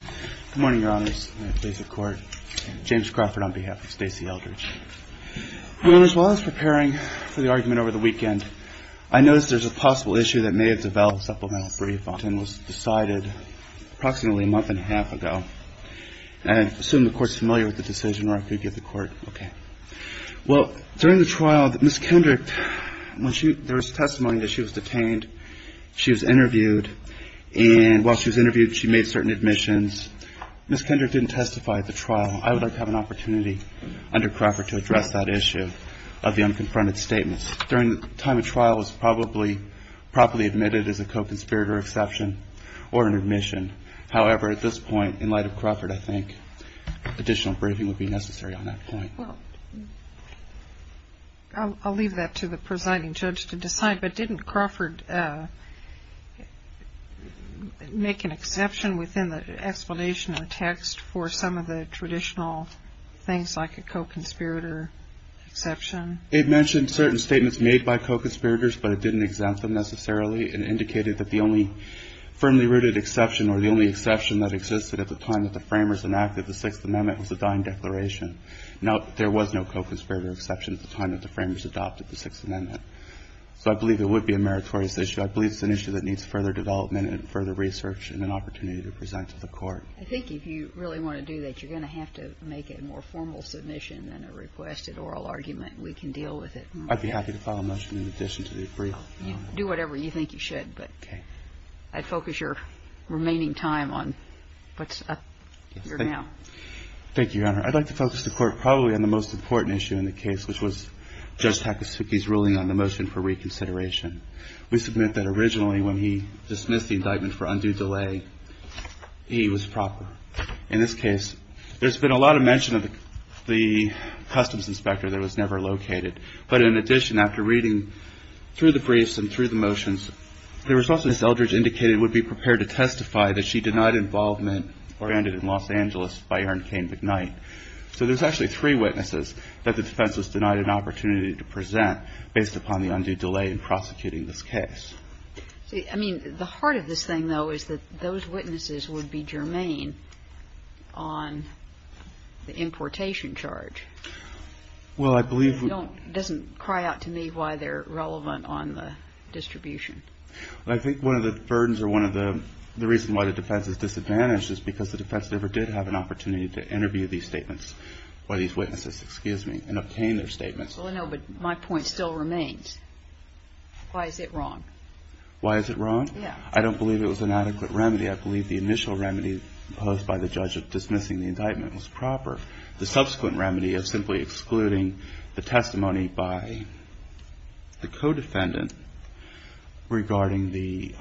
Good morning, your honors. James Crawford on behalf of Stacey Eldridge. Your honors, while I was preparing for the argument over the weekend, I noticed there's a possible issue that may have developed a supplemental brief and was decided approximately a month and a half ago. And I assume the court's familiar with the decision or I could get the court, okay. Well, during the trial, Ms. Kendrick, there was testimony that she was detained. She was interviewed and while she was interviewed, she made certain admissions. Ms. Kendrick didn't testify at the trial. I would like to have an opportunity under Crawford to address that issue of the unconfronted statements. During the time of trial, it was probably properly admitted as a co-conspirator exception or an admission. However, at this point, in light of Crawford, I think additional briefing would be necessary on that point. Well, I'll leave that to the presiding judge to decide. But didn't Crawford make an exception within the explanation of the text for some of the traditional things like a co-conspirator exception? It mentioned certain statements made by co-conspirators, but it didn't exempt them necessarily. It indicated that the only firmly rooted exception or the only exception that existed at the time that the Framers enacted the Sixth Amendment was the Dine Declaration. Now, there was no co-conspirator exception at the time that the Framers adopted the Sixth Amendment. So I believe it would be a meritorious issue. I believe it's an issue that needs further development and further research and an opportunity to present to the court. I think if you really want to do that, you're going to have to make it a more formal submission than a requested oral argument. We can deal with it. I'd be happy to file a motion in addition to the brief. Do whatever you think you should, but I'd focus your remaining time on what's up here now. Thank you, Your Honor. I'd like to focus the Court probably on the most important issue in the case, which was Judge Takasugi's ruling on the motion for reconsideration. We submit that originally when he dismissed the indictment for undue delay, he was proper. In this case, there's been a lot of mention of the customs inspector that was never located. But in addition, after reading through the briefs and through the motions, the response that Eldridge indicated would be prepared to testify that she denied involvement or ended in Los Angeles by Erin Cain McKnight. So there's actually three witnesses that the defense has denied an opportunity to present based upon the undue delay in prosecuting this case. See, I mean, the heart of this thing, though, is that those witnesses would be germane on the importation charge. Well, I believe we're going to have an opportunity to interview these statements by these witnesses, excuse me, and obtain their statements. Well, I know, but my point still remains. Why is it wrong? Why is it wrong? Yeah. I don't believe it was an adequate remedy. I believe the initial remedy posed by the judge of dismissing the indictment was proper. I believe the initial remedy posed by the judge of simply excluding the testimony by the co-defendant regarding the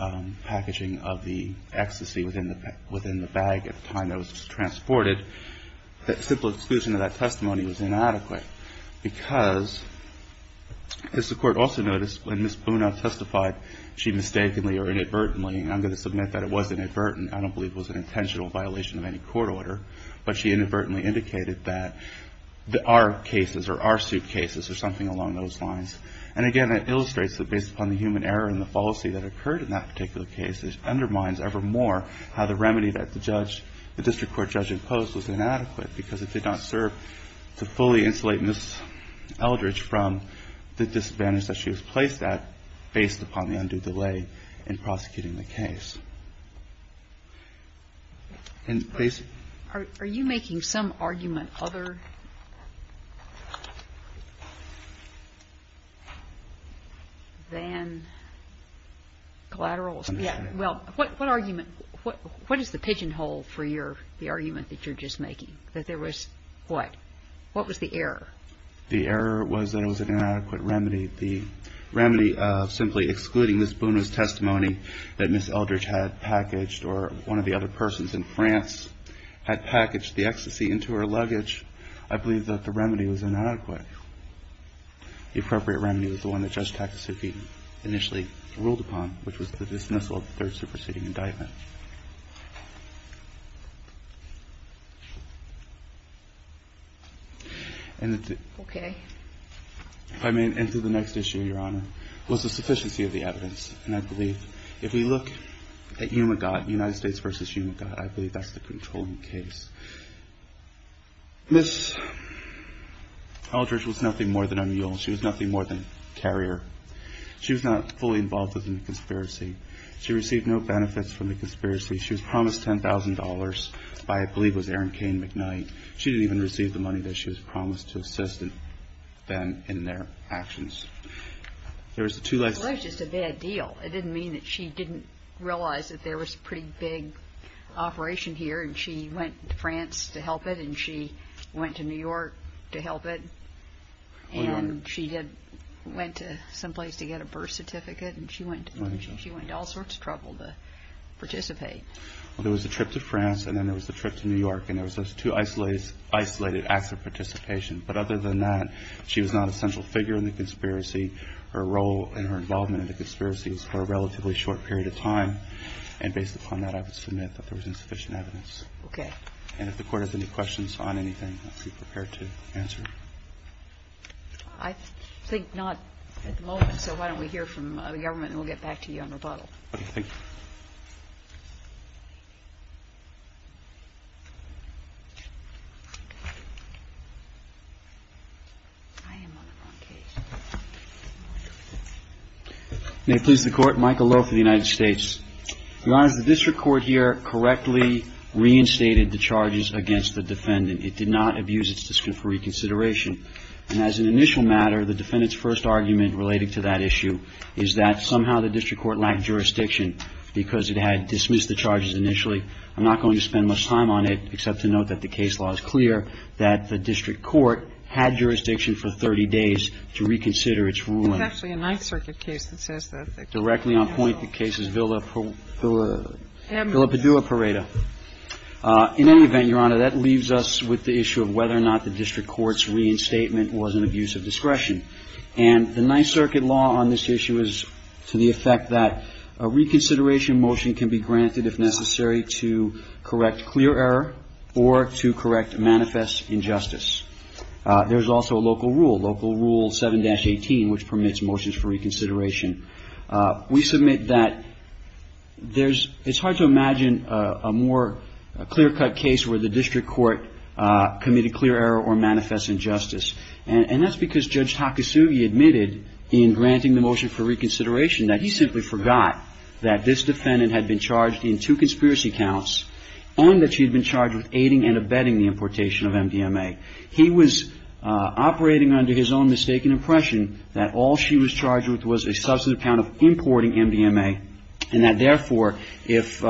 packaging of the ecstasy within the bag at the time that it was transported, that simple exclusion of that testimony was inadequate. Because, as the Court also noticed, when Ms. Buna testified, she mistakenly or inadvertently, and I'm going to submit that it was inadvertently, I don't believe it was an intentional violation of any court order, but she inadvertently indicated that there are cases or are suit cases or something along those lines. And, again, that illustrates that based upon the human error and the fallacy that occurred in that particular case, it undermines ever more how the remedy that the district court judge imposed was inadequate, because it did not serve to fully insulate Ms. Eldridge from the disadvantage that she was placed at based upon the undue delay in prosecuting the case. Are you making some argument other than collaterals? Well, what argument? What is the pigeonhole for the argument that you're just making, that there was what? What was the error? The error was that it was an inadequate remedy. The remedy of simply excluding Ms. Buna's testimony that Ms. Eldridge had packaged or one of the other persons in France had packaged the ecstasy into her luggage, I believe that the remedy was inadequate. The appropriate remedy was the one that Judge Takasuki initially ruled upon, which was the dismissal of the third superseding indictment. Okay. If I may, and to the next issue, Your Honor, was the sufficiency of the evidence. And I believe if we look at UMAGOT, United States v. UMAGOT, I believe that's the controlling case. Ms. Eldridge was nothing more than a mule. She was nothing more than a carrier. She was not fully involved in the conspiracy. She received no benefits from the conspiracy. She was promised $10,000 by, I believe it was Erin Cain McKnight. She didn't even receive the money that she was promised to assist them in their actions. There was a two- Well, it was just a bad deal. It didn't mean that she didn't realize that there was a pretty big operation here, and she went to France to help it, and she went to New York to help it, and she went to someplace to get a birth certificate, and she went to all sorts of trouble to participate. Well, there was a trip to France, and then there was a trip to New York, and there was those two isolated acts of participation. But other than that, she was not a central figure in the conspiracy. Her role and her involvement in the conspiracy was for a relatively short period of time, and based upon that, I would submit that there was insufficient evidence. Okay. And if the Court has any questions on anything, I'd be prepared to answer. I think not at the moment, so why don't we hear from the government, and we'll get back to you on rebuttal. Okay. Thank you. May it please the Court. Michael Lowe for the United States. Your Honors, the district court here correctly reinstated the charges against the defendant. It did not abuse its discretion for reconsideration. And as an initial matter, the defendant's first argument relating to that issue is that somehow the district court lacked jurisdiction because it had dismissed the charges initially. I'm not going to spend much time on it, except to note that the case law is clear that the district court had jurisdiction for 30 days to reconsider its ruling. It's actually a Ninth Circuit case that says that. Directly on point, the case is Villaparada. Villaparada. In any event, Your Honor, that leaves us with the issue of whether or not the district court's reinstatement was an abuse of discretion. And the Ninth Circuit law on this issue is to the effect that a reconsideration motion can be granted if necessary to correct clear error or to correct manifest injustice. There's also a local rule, Local Rule 7-18, which permits motions for reconsideration. We submit that there's – it's hard to imagine a more clear-cut case where the district court committed clear error or manifest injustice. And that's because Judge Takasugi admitted in granting the motion for reconsideration that he simply forgot that this defendant had been charged in two conspiracy counts and that she had been charged with aiding and abetting the importation of MDMA. He was operating under his own mistaken impression that all she was charged with was a substantive count of importing MDMA and that therefore if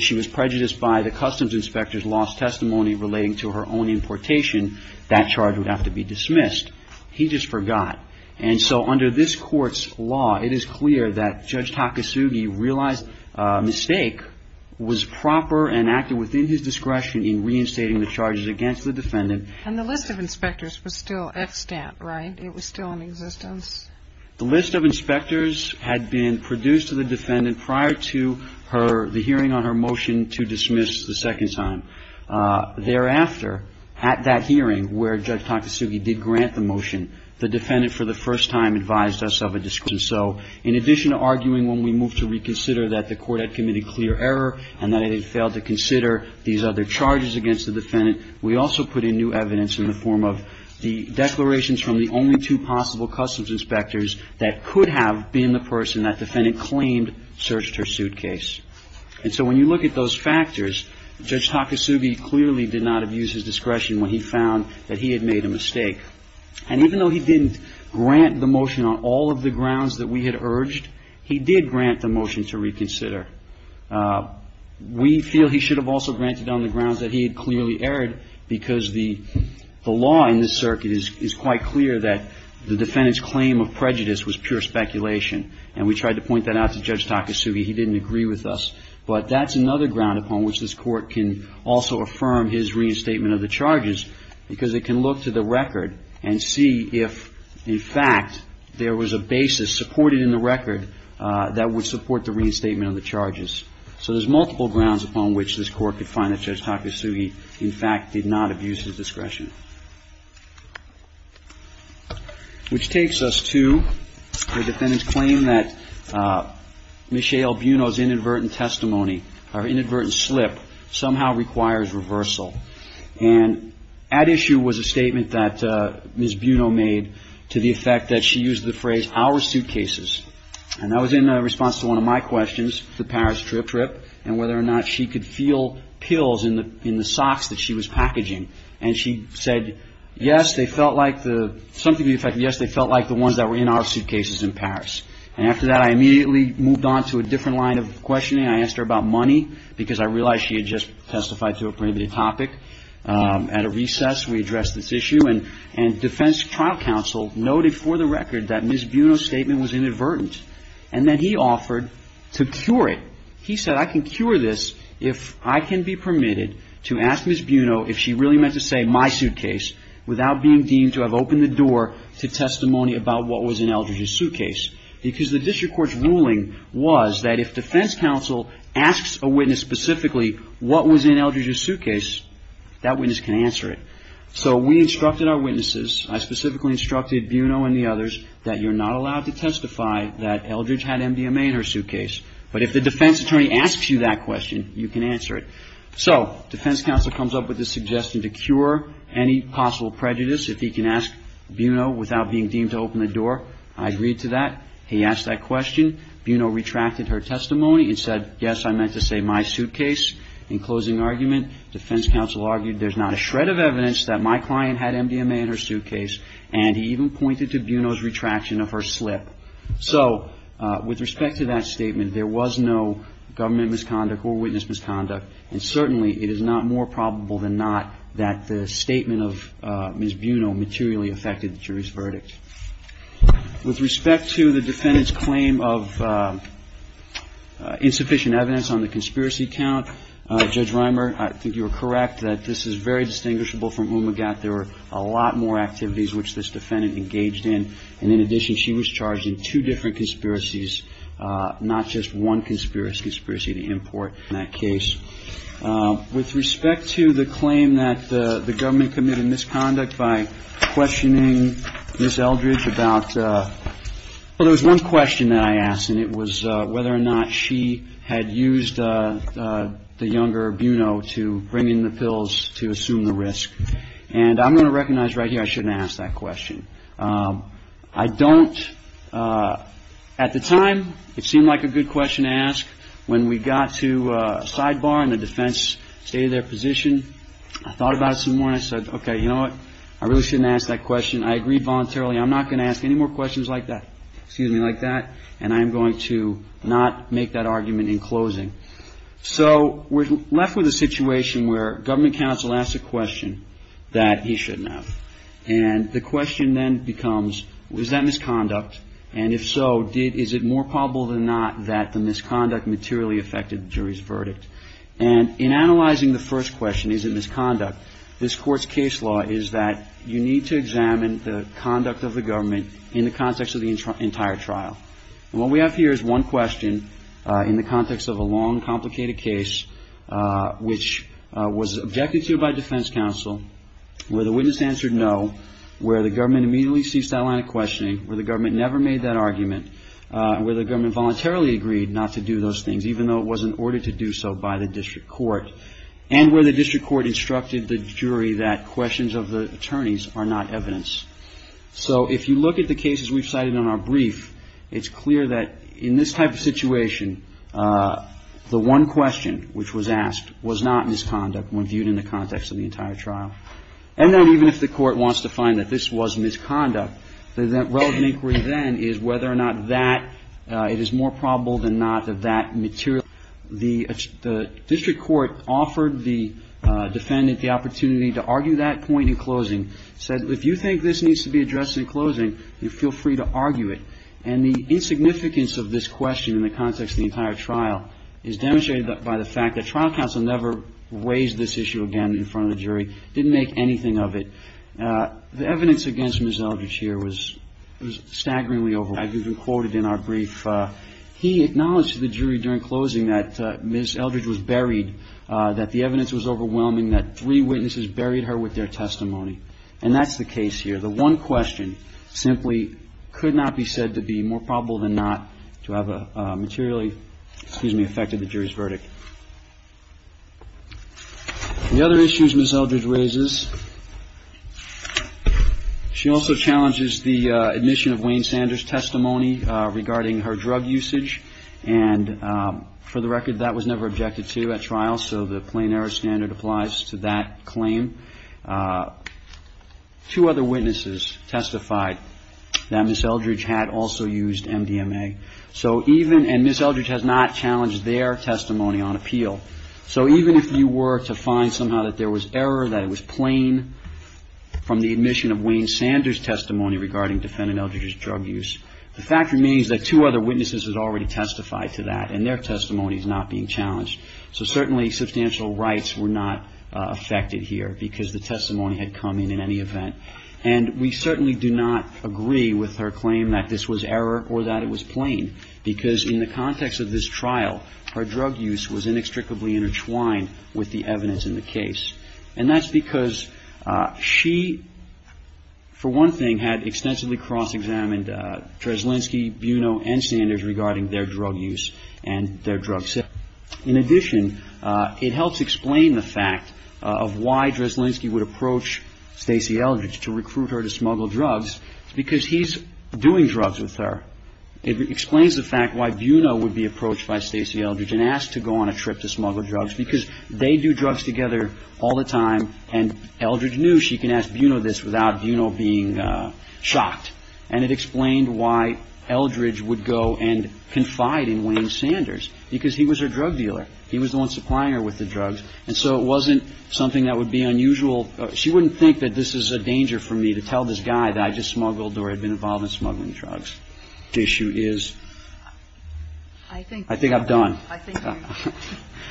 she was prejudiced by the customs inspector's lost testimony relating to her own importation, that charge would have to be dismissed. He just forgot. And so under this court's law, it is clear that Judge Takasugi realized a mistake was proper and acted within his discretion in reinstating the charges against the defendant. And the list of inspectors was still extant, right? It was still in existence? The list of inspectors had been produced to the defendant prior to her – the hearing on her motion to dismiss the second time. Thereafter, at that hearing where Judge Takasugi did grant the motion, the defendant for the first time advised us of a discretion. So in addition to arguing when we moved to reconsider that the court had committed clear error and that it had failed to consider these other charges against the defendant, we also put in new evidence in the form of the declarations from the only two possible customs inspectors that could have been the person that defendant claimed searched her suitcase. And so when you look at those factors, Judge Takasugi clearly did not have used his discretion when he found that he had made a mistake. And even though he didn't grant the motion on all of the grounds that we had urged, he did grant the motion to reconsider. We feel he should have also granted on the grounds that he had clearly erred because the law in this circuit is quite clear that the defendant's claim of prejudice was pure speculation. And we tried to point that out to Judge Takasugi. He didn't agree with us. But that's another ground upon which this Court can also affirm his reinstatement of the charges because it can look to the record and see if, in fact, there was a basis supported in the record that would support the reinstatement of the charges. So there's multiple grounds upon which this Court could find that Judge Takasugi, in fact, did not have used his discretion. Which takes us to the defendant's claim that Michelle Buno's inadvertent testimony, her inadvertent slip, somehow requires reversal. And at issue was a statement that Ms. Buno made to the effect that she used the phrase our suitcases. And that was in response to one of my questions, the Paris trip, and whether or not she could feel pills in the socks that she was packaging. And she said, yes, they felt like the ones that were in our suitcases in Paris. And after that, I immediately moved on to a different line of questioning. I asked her about money because I realized she had just testified to a previous topic. At a recess, we addressed this issue. And defense trial counsel noted for the record that Ms. Buno's statement was inadvertent. And then he offered to cure it. He said, I can cure this if I can be permitted to ask Ms. Buno if she really meant to say my suitcase without being deemed to have opened the door to testimony about what was in Eldridge's suitcase. Because the district court's ruling was that if defense counsel asks a witness specifically what was in Eldridge's suitcase, that witness can answer it. So we instructed our witnesses, I specifically instructed Buno and the others, that you're not allowed to testify that Eldridge had MDMA in her suitcase. But if the defense attorney asks you that question, you can answer it. So defense counsel comes up with the suggestion to cure any possible prejudice, if he can ask Buno without being deemed to open the door. I agreed to that. He asked that question. Buno retracted her testimony and said, yes, I meant to say my suitcase. In closing argument, defense counsel argued there's not a shred of evidence that my client had MDMA in her suitcase. And he even pointed to Buno's retraction of her slip. So with respect to that statement, there was no government misconduct or witness misconduct. And certainly it is not more probable than not that the statement of Ms. Buno materially affected the jury's verdict. With respect to the defendant's claim of insufficient evidence on the conspiracy count, Judge Reimer, I think you are correct that this is very distinguishable from Umagat. There were a lot more activities which this defendant engaged in. And in addition, she was charged in two different conspiracies, not just one conspiracy, conspiracy to import in that case. With respect to the claim that the government committed misconduct by questioning Ms. Eldridge about, well, there was one question that I asked, and it was whether or not she had used the younger Buno to bring in the pills to assume the risk. And I'm going to recognize right here I shouldn't have asked that question. I don't, at the time, it seemed like a good question to ask. When we got to sidebar and the defense stated their position, I thought about it some more and I said, okay, you know what? I really shouldn't ask that question. I agree voluntarily I'm not going to ask any more questions like that. Excuse me, like that. And I am going to not make that argument in closing. So we're left with a situation where government counsel asks a question that he shouldn't have. And the question then becomes, is that misconduct? And if so, is it more probable than not that the misconduct materially affected the jury's verdict? And in analyzing the first question, is it misconduct, this Court's case law is that you need to examine the conduct of the government in the context of the entire trial. And what we have here is one question in the context of a long, complicated case, which was objected to by defense counsel, where the witness answered no, where the government immediately ceased that line of questioning, where the government never made that argument, where the government voluntarily agreed not to do those things, even though it was an order to do so by the district court, and where the district court instructed the jury that questions of the attorneys are not evidence. So if you look at the cases we've cited in our brief, it's clear that in this type of was not misconduct when viewed in the context of the entire trial. And then even if the court wants to find that this was misconduct, the relevant inquiry then is whether or not that it is more probable than not that that material the district court offered the defendant the opportunity to argue that point in closing, said if you think this needs to be addressed in closing, you feel free to argue it. And the insignificance of this question in the context of the entire trial is demonstrated by the fact that trial counsel never raised this issue again in front of the jury, didn't make anything of it. The evidence against Ms. Eldridge here was staggeringly overwhelming. I've even quoted in our brief, he acknowledged to the jury during closing that Ms. Eldridge was buried, that the evidence was overwhelming, that three witnesses buried her with their testimony. And that's the case here. The one question simply could not be said to be more probable than not to have materially, excuse me, affected the jury's verdict. The other issues Ms. Eldridge raises, she also challenges the admission of Wayne Sanders' testimony regarding her drug usage. And for the record, that was never objected to at trial, so the plain error standard applies to that claim. Two other witnesses testified that Ms. Eldridge had also used MDMA. So even, and Ms. Eldridge has not challenged their testimony on appeal, so even if you were to find somehow that there was error, that it was plain from the admission of Wayne Sanders' testimony regarding defendant Eldridge's drug use, the fact remains that two other witnesses had already testified to that, and their testimony is not being challenged. So certainly substantial rights were not affected here, because the testimony had come in in any event. And we certainly do not agree with her claim that this was error or that it was plain, because in the context of this trial, her drug use was inextricably intertwined with the evidence in the case. And that's because she, for one thing, had extensively cross-examined Dreszlinski, Buno, and Sanders regarding their drug use and their drug safety. In addition, it helps explain the fact of why Dreszlinski would approach Stacy Eldridge to recruit her to smuggle drugs, because he's doing drugs with her. It explains the fact why Buno would be approached by Stacy Eldridge and asked to go on a trip to smuggle drugs, because they do drugs together all the time, and Eldridge knew she can ask Buno this without Buno being shocked. And it explained why Eldridge would go and confide in Wayne Sanders, because he was her drug dealer. He was the one supplying her with the drugs. And so it wasn't something that would be unusual. She wouldn't think that this is a danger for me to tell this guy that I just smuggled or had been involved in smuggling drugs. The issue is I think I've done.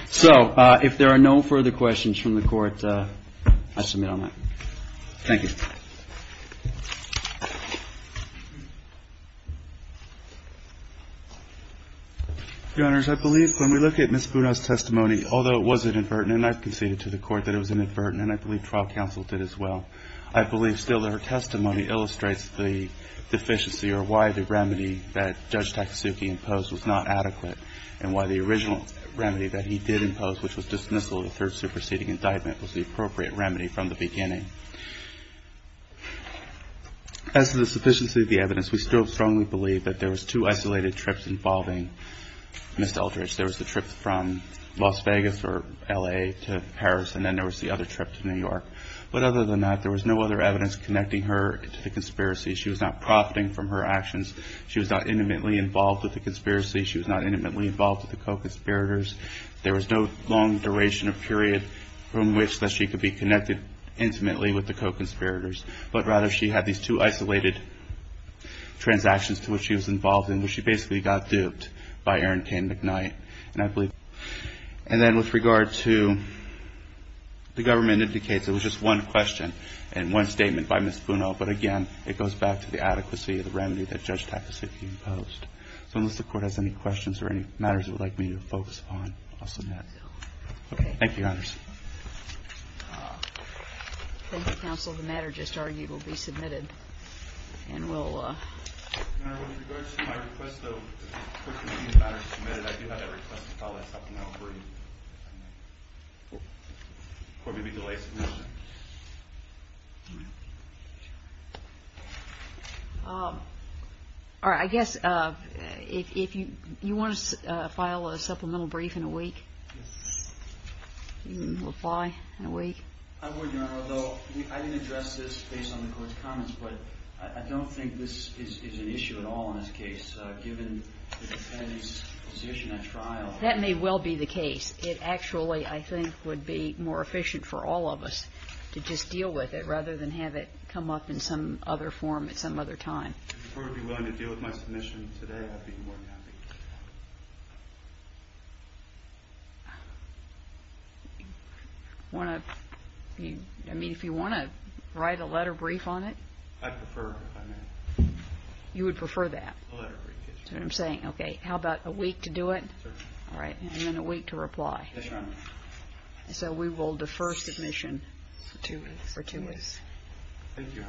So if there are no further questions from the Court, I submit on that. Thank you. Your Honors, I believe when we look at Ms. Buno's testimony, although it was inadvertent and I've conceded to the Court that it was inadvertent, and I believe trial counsel did as well, I believe still that her testimony illustrates the deficiency or why the remedy that Judge Takasuki imposed was not adequate and why the original remedy that he did impose, which was dismissal of the third superseding indictment, was the appropriate remedy from the beginning. As to the sufficiency of the evidence, we still strongly believe that there was two isolated trips involving Ms. Eldridge. There was the trip from Las Vegas or L.A. to Paris, and then there was the other trip to New York. But other than that, there was no other evidence connecting her to the conspiracy. She was not profiting from her actions. She was not intimately involved with the conspiracy. She was not intimately involved with the co-conspirators. There was no long duration or period from which that she could be connected intimately with the co-conspirators. But rather, she had these two isolated transactions to which she was involved in, where she basically got duped by Aaron K. McKnight. And then with regard to the government indicates, there was just one question and one statement by Ms. Funo. But again, it goes back to the adequacy of the remedy that Judge Takasaki imposed. So unless the Court has any questions or any matters it would like me to focus on, I'll submit. Okay. Thank you, Your Honors. Thank you, Counsel. The matter just argued will be submitted. And we'll... Your Honor, with regard to my request, though, for the matter to be submitted, I do have a request to file a supplemental brief. Will there be a delay in submission? No. All right. I guess if you want to file a supplemental brief in a week, you can apply in a week. I would, Your Honor. Although I didn't address this based on the Court's comments, but I don't think this is an issue at all in this case, given the defendant's position at trial. That may well be the case. It actually, I think, would be more efficient for all of us to just deal with it, rather than have it come up in some other form at some other time. If the Court would be willing to deal with my submission today, I'd be more than happy. Thank you. I mean, if you want to write a letter brief on it? I'd prefer if I may. You would prefer that? A letter brief, yes. That's what I'm saying. Okay. How about a week to do it? Certainly. All right. And then a week to reply. Yes, Your Honor. So we will defer submission for two weeks. Thank you, Your Honor.